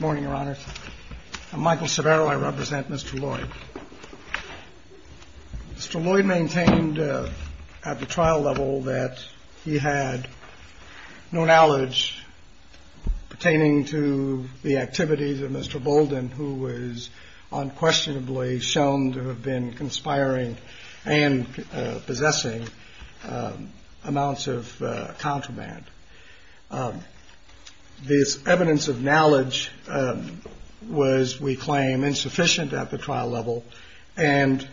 Mr. Lloyd maintained at the trial level that he had no knowledge pertaining to the activities of Mr. Bolden, who was unquestionably shown to have been conspiring and possessing amounts of contraband. This evidence of knowledge was, we claim, insufficient at the trial level, and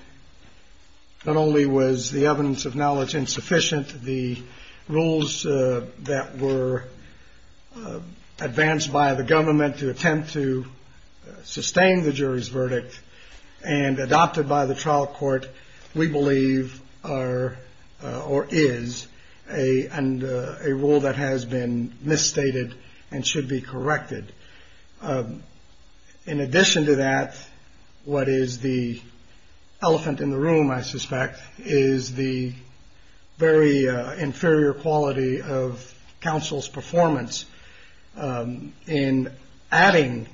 not only was the evidence of knowledge insufficient, the rules that were advanced by the government to attempt to sustain the jury's verdict and adopted by the trial court, we believe are, or is, a rule that has been misstated and should be corrected. In addition to that, what is the elephant in the room, I suspect, is the very inferior quality of counsel's performance in adding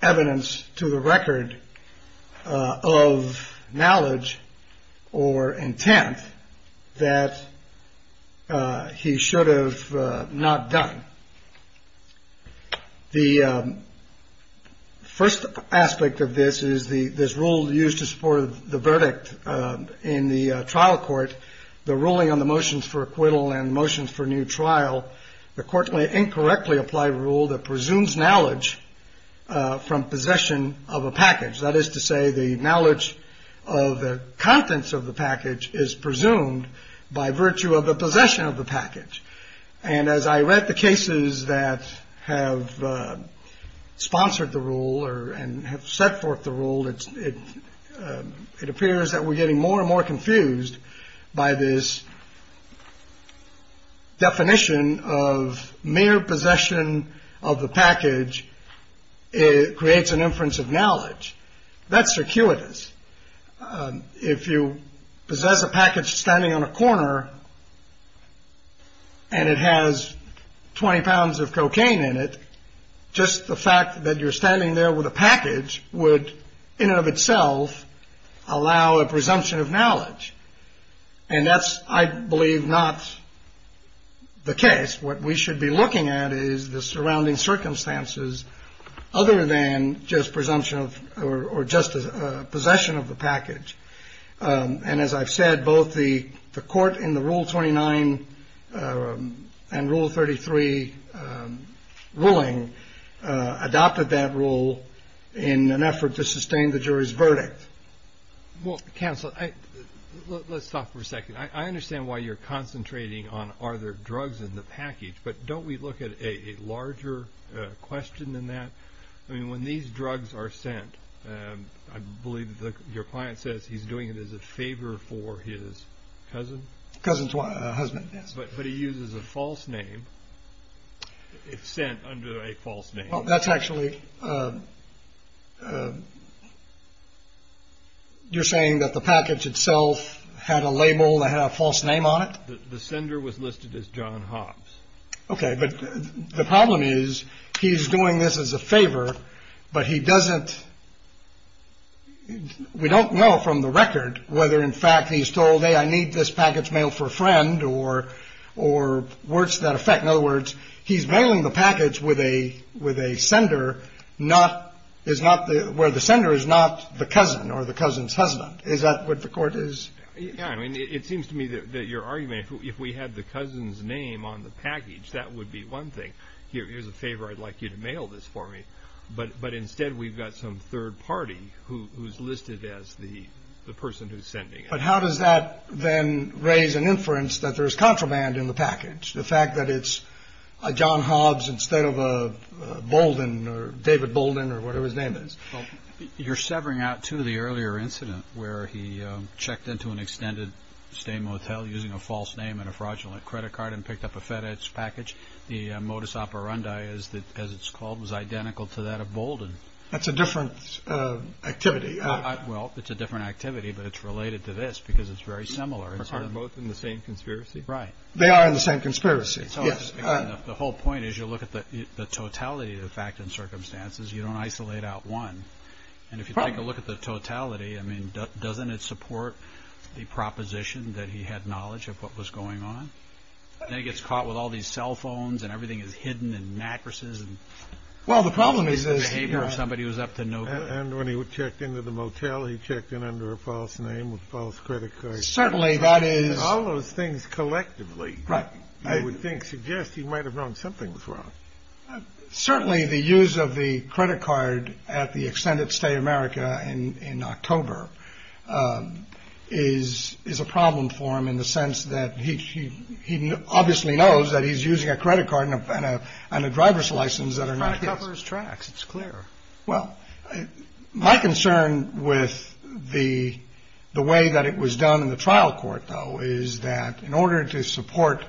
evidence to the record of knowledge or intent that he should have not done. The first aspect of this is this rule used to support the verdict in the trial court, the ruling on the motions for acquittal and motions for new trial. The court may incorrectly apply a rule that presumes knowledge from possession of a package. That is to say, the knowledge of the contents of the package is presumed by virtue of the possession of the package. And as I read the cases that have sponsored the rule and have set forth the rule, it appears that we're getting more and more confused by this definition of mere possession of the package. It creates an inference of knowledge. That's circuitous. If you possess a package standing on a corner and it has 20 pounds of cocaine in it, just the fact that you're standing there with a package would, in and of itself, allow a presumption of knowledge. And that's, I believe, not the case. What we should be looking at is the surrounding circumstances other than just presumption of or just possession of the package. And as I've said, both the court in the Rule 29 and Rule 33 ruling adopted that rule in an effort to sustain the jury's verdict. Well, counsel, let's stop for a second. I understand why you're concentrating on are there drugs in the package, but don't we look at a larger question than that? I mean, when these drugs are sent, I believe your client says he's doing it as a favor for his cousin. Cousin's husband. But he uses a false name. It's sent under a false name. Well, that's actually you're saying that the package itself had a label that had a false name on it. The sender was listed as John Hobbs. OK, but the problem is he's doing this as a favor, but he doesn't. We don't know from the record whether, in fact, he's told, hey, I need this package mailed for a friend or or words that affect. In other words, he's mailing the package with a with a sender. Not is not where the sender is, not the cousin or the cousin's husband. Is that what the court is? Yeah. I mean, it seems to me that your argument, if we had the cousin's name on the package, that would be one thing. Here's a favor. I'd like you to mail this for me. But but instead, we've got some third party who's listed as the person who's sending. But how does that then raise an inference that there is contraband in the package? The fact that it's a John Hobbs instead of a Bolden or David Bolden or whatever his name is. You're severing out to the earlier incident where he checked into an extended stay motel using a false name and a fraudulent credit card and picked up a fetish package. The modus operandi is that, as it's called, was identical to that of Bolden. That's a different activity. Well, it's a different activity, but it's related to this because it's very similar. Both in the same conspiracy. Right. They are in the same conspiracy. Yes. The whole point is you look at the totality of the fact and circumstances. You don't isolate out one. And if you take a look at the totality, I mean, doesn't it support the proposition that he had knowledge of what was going on? Then he gets caught with all these cell phones and everything is hidden in mattresses. Well, the problem is, is somebody was up to no good. And when he checked into the motel, he checked in under a false name with both credit cards. Certainly that is all those things collectively. Right. I would think suggest he might have known something was wrong. Certainly the use of the credit card at the extended stay America in October is is a problem for him in the sense that he he obviously knows that he's using a credit card and a driver's license that are not his tracks. It's clear. Well, my concern with the the way that it was done in the trial court, though, is that in order to support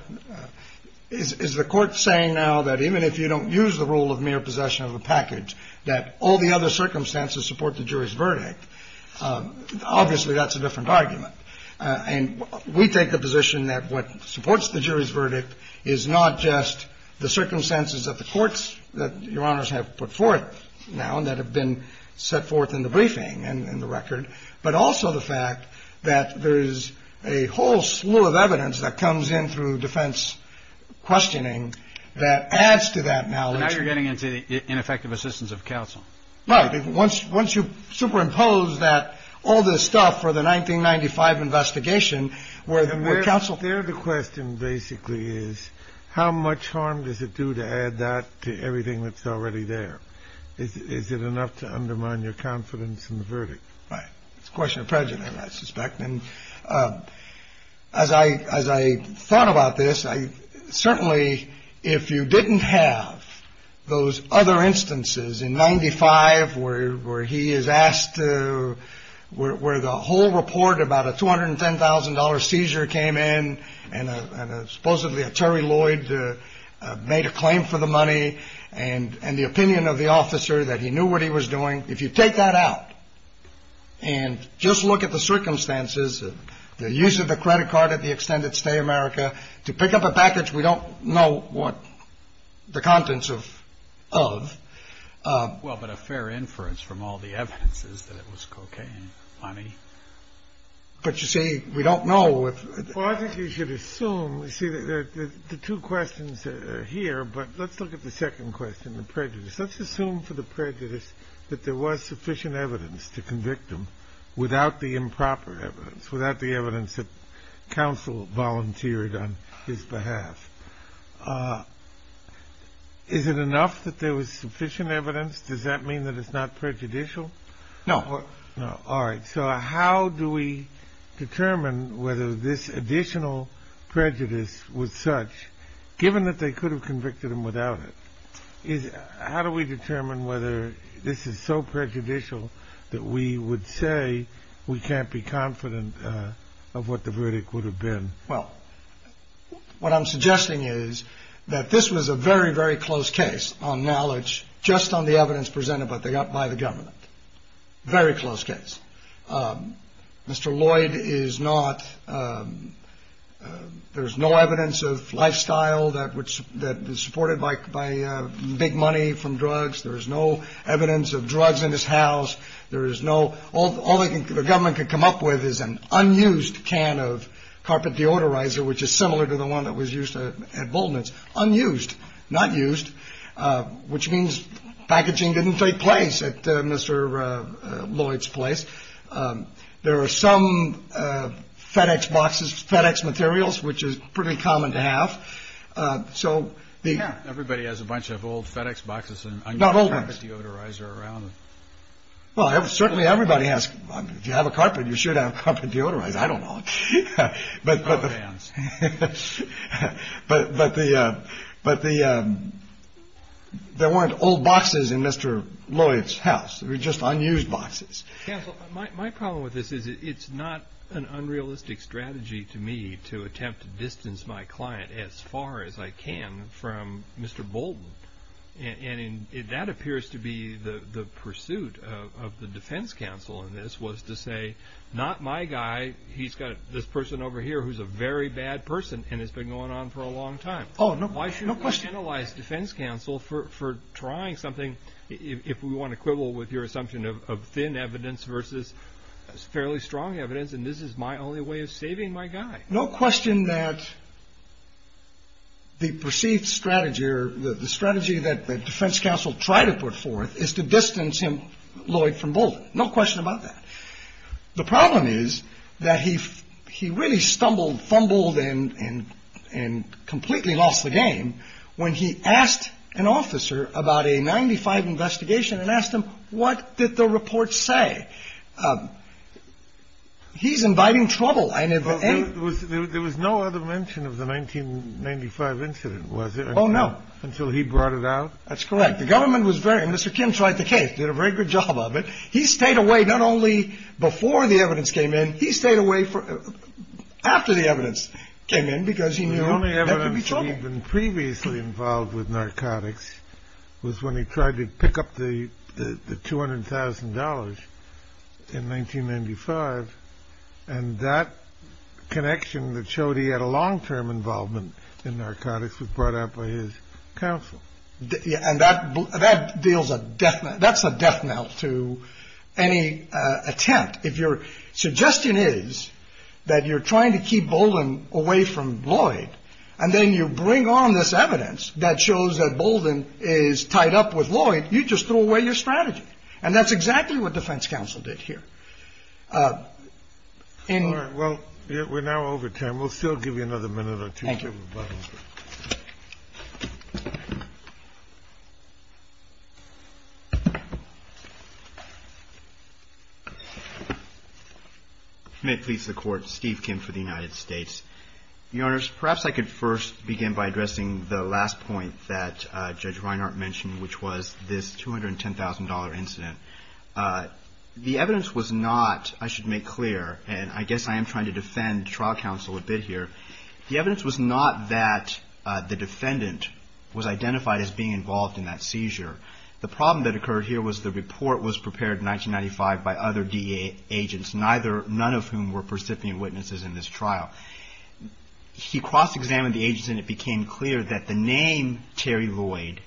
is the court saying now that even if you don't use the rule of mere possession of a package, that all the other circumstances support the jury's verdict? Obviously, that's a different argument. And we take the position that what supports the jury's verdict is not just the circumstances of the courts that Your Honor's have put forth now and that have been set forth in the briefing and the record, but also the fact that there is a whole slew of evidence that comes in through defense questioning that adds to that. Now you're getting into the ineffective assistance of counsel. Right. Once once you superimpose that, all this stuff for the 1995 investigation where the counsel there, the question basically is how much harm does it do to add that to everything that's already there? Is it enough to undermine your confidence in the verdict? Right. It's a question of prejudice, I suspect. And as I as I thought about this, I certainly if you didn't have those other instances in ninety five where where he is asked to where the whole report about a two hundred and ten thousand dollar seizure came in and supposedly a Terry Lloyd made a claim for the money and and the opinion of the officer that he knew what he was doing. If you take that out and just look at the circumstances, the use of the credit card at the extended stay America to pick up a package, we don't know what the contents of of. Well, but a fair inference from all the evidence is that it was cocaine money. But you see, we don't know. You should assume that the two questions here. But let's look at the second question, the prejudice. Let's assume for the prejudice that there was sufficient evidence to convict him without the improper evidence, without the evidence that counsel volunteered on his behalf. Is it enough that there was sufficient evidence? Does that mean that it's not prejudicial? No. All right. So how do we determine whether this additional prejudice was such given that they could have convicted him without it? How do we determine whether this is so prejudicial that we would say we can't be confident of what the verdict would have been? Well, what I'm suggesting is that this was a very, very close case on knowledge just on the evidence presented by the government. Very close case. Mr. Lloyd is not. There is no evidence of lifestyle that which that is supported by big money from drugs. There is no evidence of drugs in this house. There is no all the government could come up with is an unused can of carpet deodorizer, which is similar to the one that was used at Bowman's unused, not used, which means packaging didn't take place at Mr. Lloyd's place. There are some FedEx boxes, FedEx materials, which is pretty common to have. So the everybody has a bunch of old FedEx boxes and not all the deodorizer around. Well, I have certainly everybody has to have a carpet. You should have come to deodorize. I don't know. But. But but the but the there weren't old boxes in Mr. Lloyd's house. We're just unused boxes. My problem with this is it's not an unrealistic strategy to me to attempt to distance my client as far as I can from Mr. Bolton. And that appears to be the pursuit of the defense counsel in this was to say, not my guy. He's got this person over here who's a very bad person and it's been going on for a long time. Oh, no. Why should analyze defense counsel for for trying something? If we want to quibble with your assumption of thin evidence versus fairly strong evidence. And this is my only way of saving my guy. No question that. The perceived strategy or the strategy that the defense counsel tried to put forth is to distance him Lloyd from both. No question about that. The problem is that he he really stumbled, fumbled and and and completely lost the game. When he asked an officer about a 95 investigation and asked him, what did the report say? He's inviting trouble. There was no other mention of the 1995 incident. Was it? Oh, no. Until he brought it out. That's correct. The government was very Mr. Kim tried the case, did a very good job of it. He stayed away not only before the evidence came in. He stayed away for after the evidence came in because he knew only evidence. He'd been previously involved with narcotics was when he tried to pick up the two hundred thousand dollars in 1995. And that connection that showed he had a long term involvement in narcotics was brought up by his counsel. And that that deals a death. That's a death knell to any attempt. If your suggestion is that you're trying to keep Bowdoin away from Lloyd and then you bring on this evidence that shows that Bowdoin is tied up with Lloyd, you just throw away your strategy. And that's exactly what defense counsel did here. Well, we're now over time. We'll still give you another minute or two. May please the court. Steve Kim for the United States. Your Honors, perhaps I could first begin by addressing the last point that Judge Reinhart mentioned, which was this two hundred and ten thousand dollar incident. The evidence was not I should make clear and I guess I am trying to defend trial counsel a bit here. The evidence was not that the defendant was identified as being involved in that seizure. The problem that occurred here was the report was prepared in 1995 by other D.A. agents, neither none of whom were percipient witnesses in this trial. He cross examined the agents and it became clear that the name Terry Lloyd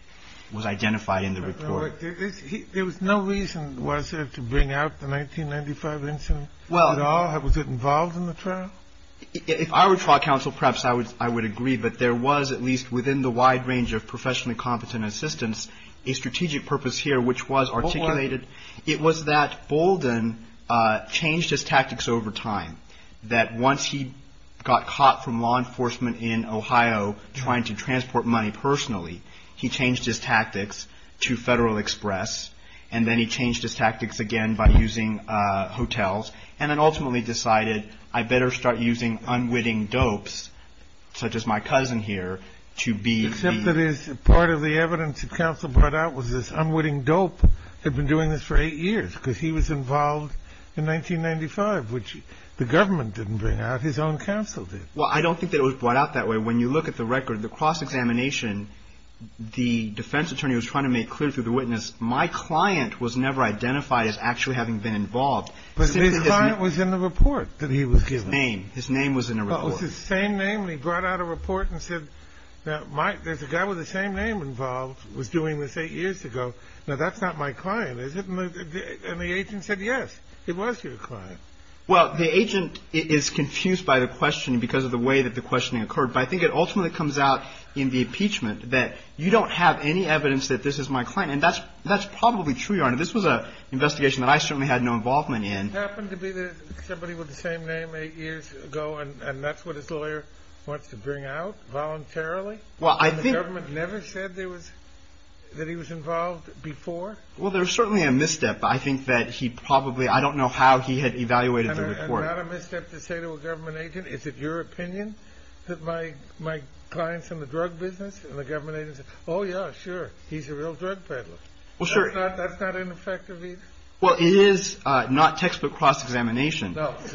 was identified in the report. There was no reason to bring out the 1995 incident at all. Was it involved in the trial? If I were trial counsel, perhaps I would I would agree. But there was at least within the wide range of professionally competent assistance, a strategic purpose here which was articulated. It was that Bowdoin changed his tactics over time, that once he got caught from law enforcement in Ohio trying to transport money personally, he changed his tactics to Federal Express and then he changed his tactics again by using hotels and then ultimately decided I better start using unwitting dopes such as my cousin here to be. Except that is part of the evidence that counsel brought out was this unwitting dope had been doing this for eight years because he was involved in 1995, which the government didn't bring out. His own counsel did. Well, I don't think that it was brought out that way. When you look at the record, the cross examination, the defense attorney was trying to make clear to the witness. My client was never identified as actually having been involved, but his client was in the report that he was his name. His name was in the same name. He brought out a report and said, Mike, there's a guy with the same name involved was doing this eight years ago. Now, that's not my client. Is it? And the agent said, yes, it was your client. Well, the agent is confused by the question because of the way that the questioning occurred. But I think it ultimately comes out in the impeachment that you don't have any evidence that this is my client. And that's that's probably true. This was an investigation that I certainly had no involvement in. Happened to be somebody with the same name eight years ago. And that's what his lawyer wants to bring out voluntarily. Well, I think the government never said there was that he was involved before. Well, there's certainly a misstep. I think that he probably I don't know how he had evaluated the report. Not a misstep to say to a government agent. Is it your opinion that my my clients in the drug business and the government? Oh, yeah, sure. He's a real drug peddler. Well, sure. That's not ineffective. Well, it is not textbook cross examination. But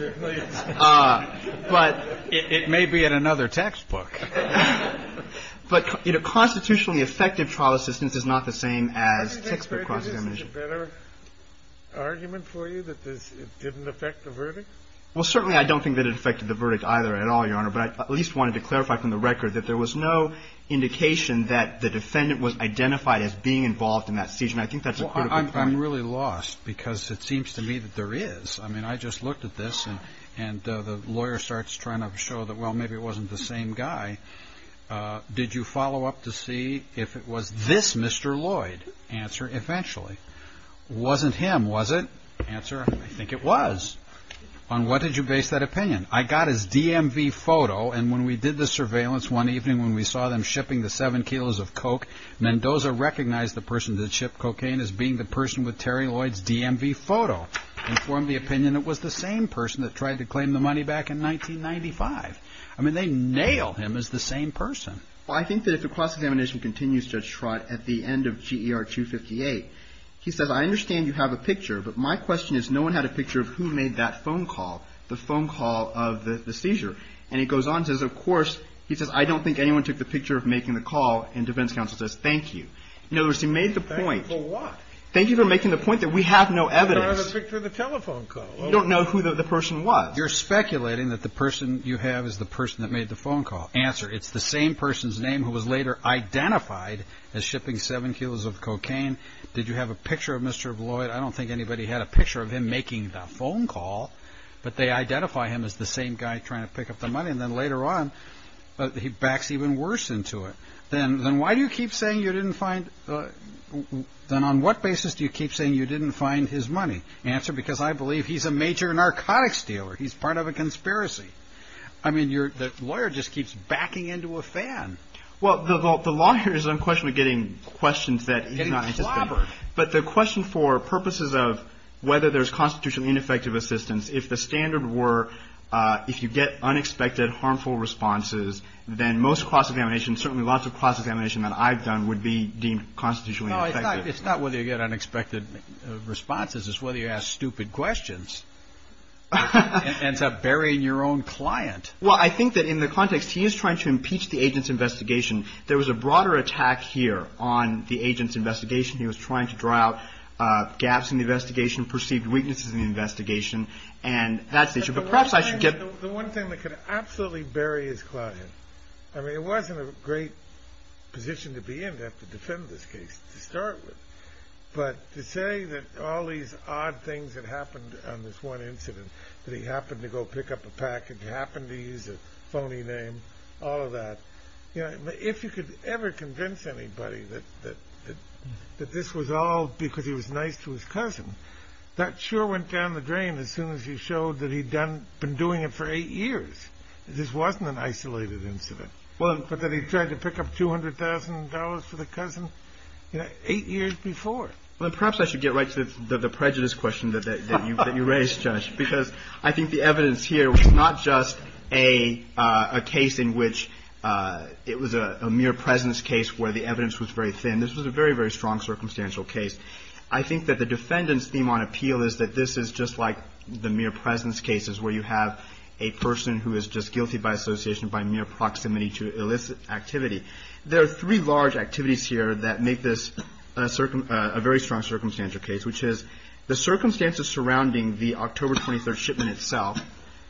it may be in another textbook. But, you know, constitutionally effective trial assistance is not the same as textbook cross examination. Better argument for you that this didn't affect the verdict. Well, certainly I don't think that it affected the verdict either at all, Your Honor. But I at least wanted to clarify from the record that there was no indication that the defendant was identified as being involved in that. And I think that's I'm really lost because it seems to me that there is. I mean, I just looked at this and and the lawyer starts trying to show that. Well, maybe it wasn't the same guy. Did you follow up to see if it was this? Mr. Lloyd answer eventually wasn't him, was it? Answer. I think it was. On what did you base that opinion? I got his DMV photo. And when we did the surveillance one evening, when we saw them shipping the seven kilos of coke, Mendoza recognized the person that shipped cocaine as being the person with Terry Lloyd's DMV photo. Informed the opinion it was the same person that tried to claim the money back in 1995. I mean, they nailed him as the same person. Well, I think that if the cross examination continues, Judge Trott, at the end of G.E.R. 258, he says, I understand you have a picture. But my question is, no one had a picture of who made that phone call, the phone call of the seizure. And he goes on, says, of course, he says, I don't think anyone took the picture of making the call. And defense counsel says, thank you. In other words, he made the point. Thank you for what? Thank you for making the point that we have no evidence. I don't have a picture of the telephone call. You don't know who the person was. You're speculating that the person you have is the person that made the phone call. Answer. It's the same person's name who was later identified as shipping seven kilos of cocaine. Did you have a picture of Mr. Lloyd? I don't think anybody had a picture of him making the phone call. But they identify him as the same guy trying to pick up the money. And then later on, he backs even worse into it. Then then why do you keep saying you didn't find then on what basis do you keep saying you didn't find his money? Answer. Because I believe he's a major narcotics dealer. He's part of a conspiracy. I mean, you're the lawyer just keeps backing into a fan. Well, the law here is unquestionably getting questions that you're not interested in. But the question for purposes of whether there's constitutionally ineffective assistance, if the standard were if you get unexpected, harmful responses, then most cross examination, certainly lots of cross examination that I've done would be deemed constitutionally. It's not whether you get unexpected responses is whether you ask stupid questions and bury your own client. Well, I think that in the context he is trying to impeach the agent's investigation. There was a broader attack here on the agent's investigation. He was trying to draw out gaps in the investigation, perceived weaknesses in the investigation. And that's the issue. But perhaps I should get the one thing that could absolutely bury his client. I mean, it wasn't a great position to be in to have to defend this case to start with. But to say that all these odd things that happened on this one incident, that he happened to go pick up a package, happened to use a phony name, all of that. If you could ever convince anybody that this was all because he was nice to his cousin, that sure went down the drain as soon as you showed that he'd been doing it for eight years. This wasn't an isolated incident. But that he tried to pick up $200,000 for the cousin, you know, eight years before. Well, perhaps I should get right to the prejudice question that you raised, Judge, because I think the evidence here was not just a case in which it was a mere presence case where the evidence was very thin. This was a very, very strong circumstantial case. I think that the defendant's theme on appeal is that this is just like the mere presence cases where you have a person who is just guilty by association, by mere proximity to illicit activity. There are three large activities here that make this a very strong circumstantial case, which is the circumstances surrounding the October 23 shipment itself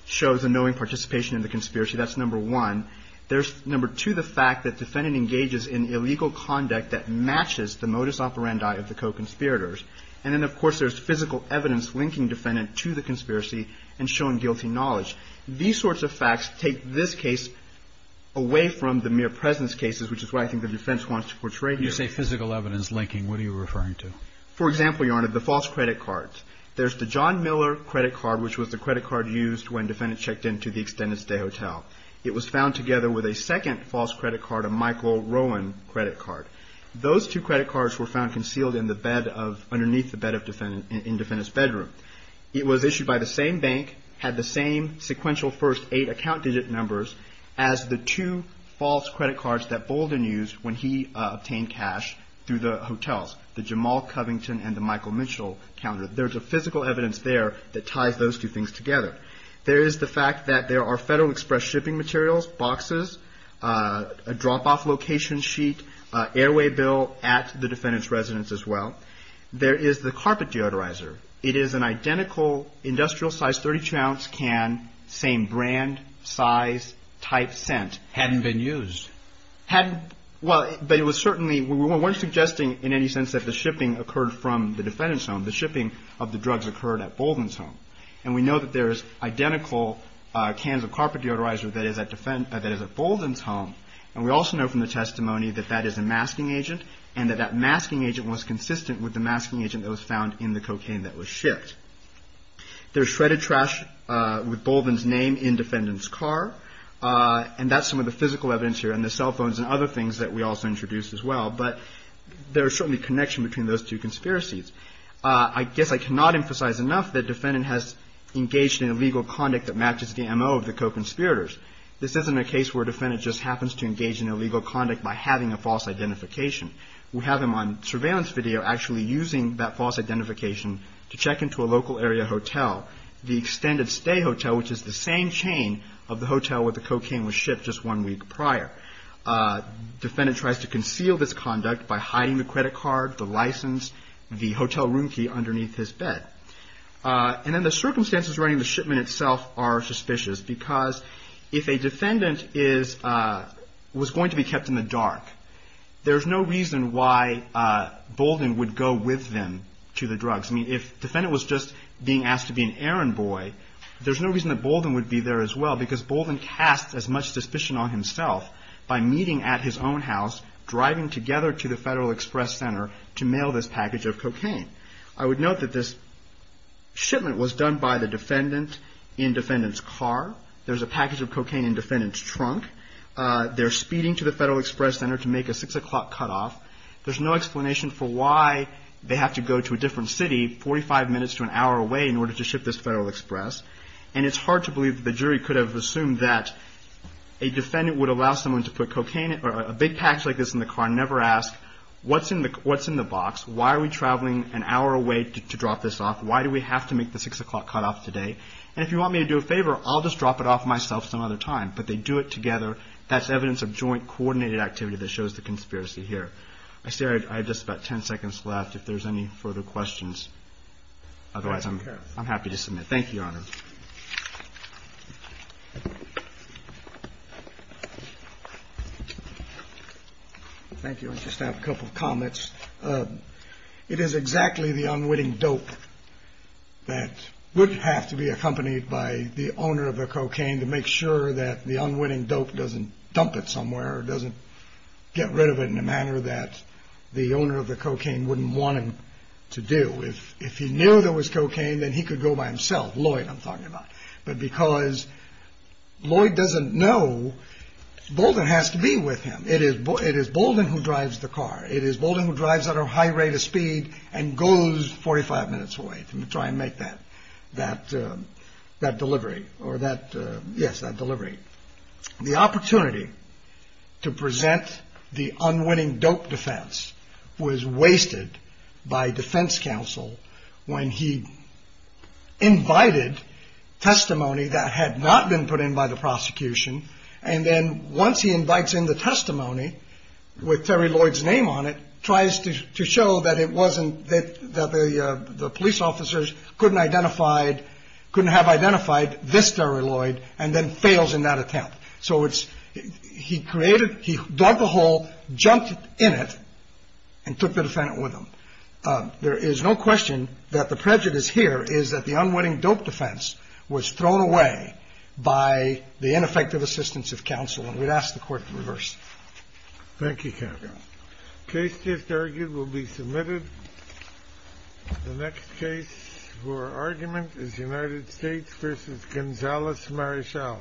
shows a knowing participation in the conspiracy. That's number one. There's number two, the fact that defendant engages in illegal conduct that matches the modus operandi of the co-conspirators. And then, of course, there's physical evidence linking defendant to the conspiracy and showing guilty knowledge. These sorts of facts take this case away from the mere presence cases, which is why I think the defense wants to portray here. You say physical evidence linking. What are you referring to? For example, Your Honor, the false credit cards. There's the John Miller credit card, which was the credit card used when defendant checked into the Extended Stay Hotel. It was found together with a second false credit card, a Michael Rowan credit card. Those two credit cards were found concealed underneath the bed in defendant's bedroom. It was issued by the same bank, had the same sequential first eight account digit numbers as the two false credit cards that Bolden used when he obtained cash through the hotels, the Jamal Covington and the Michael Mitchell counter. There's a physical evidence there that ties those two things together. There is the fact that there are Federal Express shipping materials, boxes, a drop off location sheet, airway bill at the defendant's residence as well. There is the carpet deodorizer. It is an identical industrial size 32 ounce can, same brand, size, type, scent. Hadn't been used. Hadn't. Well, but it was certainly, we weren't suggesting in any sense that the shipping occurred from the defendant's home. The shipping of the drugs occurred at Bolden's home. And we know that there is identical cans of carpet deodorizer that is at Bolden's home. And we also know from the testimony that that is a masking agent and that that masking agent was consistent with the masking agent that was found in the cocaine that was shipped. There's shredded trash with Bolden's name in defendant's car. And that's some of the physical evidence here and the cell phones and other things that we also introduced as well. But there is certainly a connection between those two conspiracies. I guess I cannot emphasize enough that defendant has engaged in illegal conduct that matches the MO of the co-conspirators. This isn't a case where a defendant just happens to engage in illegal conduct by having a false identification. We have him on surveillance video actually using that false identification to check into a local area hotel, the extended stay hotel, which is the same chain of the hotel where the cocaine was shipped just one week prior. Defendant tries to conceal this conduct by hiding the credit card, the license, the hotel room key underneath his bed. And then the circumstances regarding the shipment itself are suspicious because if a defendant was going to be kept in the dark, there's no reason why Bolden would go with them to the drugs. I mean, if defendant was just being asked to be an errand boy, there's no reason that Bolden would be there as well because Bolden casts as much suspicion on himself by meeting at his own house, driving together to the Federal Express Center to mail this package of cocaine. I would note that this shipment was done by the defendant in defendant's car. There's a package of cocaine in defendant's trunk. They're speeding to the Federal Express Center to make a 6 o'clock cutoff. There's no explanation for why they have to go to a different city 45 minutes to an hour away in order to ship this Federal Express. And it's hard to believe that the jury could have assumed that a defendant would allow someone to put cocaine or a big package like this in the car and never ask, what's in the box? Why are we traveling an hour away to drop this off? Why do we have to make the 6 o'clock cutoff today? And if you want me to do a favor, I'll just drop it off myself some other time. But they do it together. That's evidence of joint coordinated activity that shows the conspiracy here. I see I have just about 10 seconds left if there's any further questions. Otherwise, I'm happy to submit. Thank you, Your Honor. Thank you. I just have a couple of comments. It is exactly the unwitting dope that would have to be accompanied by the owner of the cocaine to make sure that the unwitting dope doesn't dump it somewhere or doesn't get rid of it in a manner that the owner of the cocaine wouldn't want him to do. If he knew there was cocaine, then he could go by himself. Lloyd, I'm talking about. But because Lloyd doesn't know, Bolden has to be with him. It is Bolden who drives the car. It is Bolden who drives at a high rate of speed and goes 45 minutes away to try and make that delivery. Yes, that delivery. The opportunity to present the unwitting dope defense was wasted by defense counsel when he invited testimony that had not been put in by the prosecution. And then once he invites in the testimony with Terry Lloyd's name on it, tries to show that it wasn't that the police officers couldn't identified, couldn't have identified this Terry Lloyd and then fails in that attempt. So it's he created he dug the hole, jumped in it and took the defendant with him. There is no question that the prejudice here is that the unwitting dope defense was thrown away by the ineffective assistance of counsel. And we'd ask the court to reverse. Thank you. Case just argued will be submitted. The next case for argument is United States versus Gonzalez. Marisol.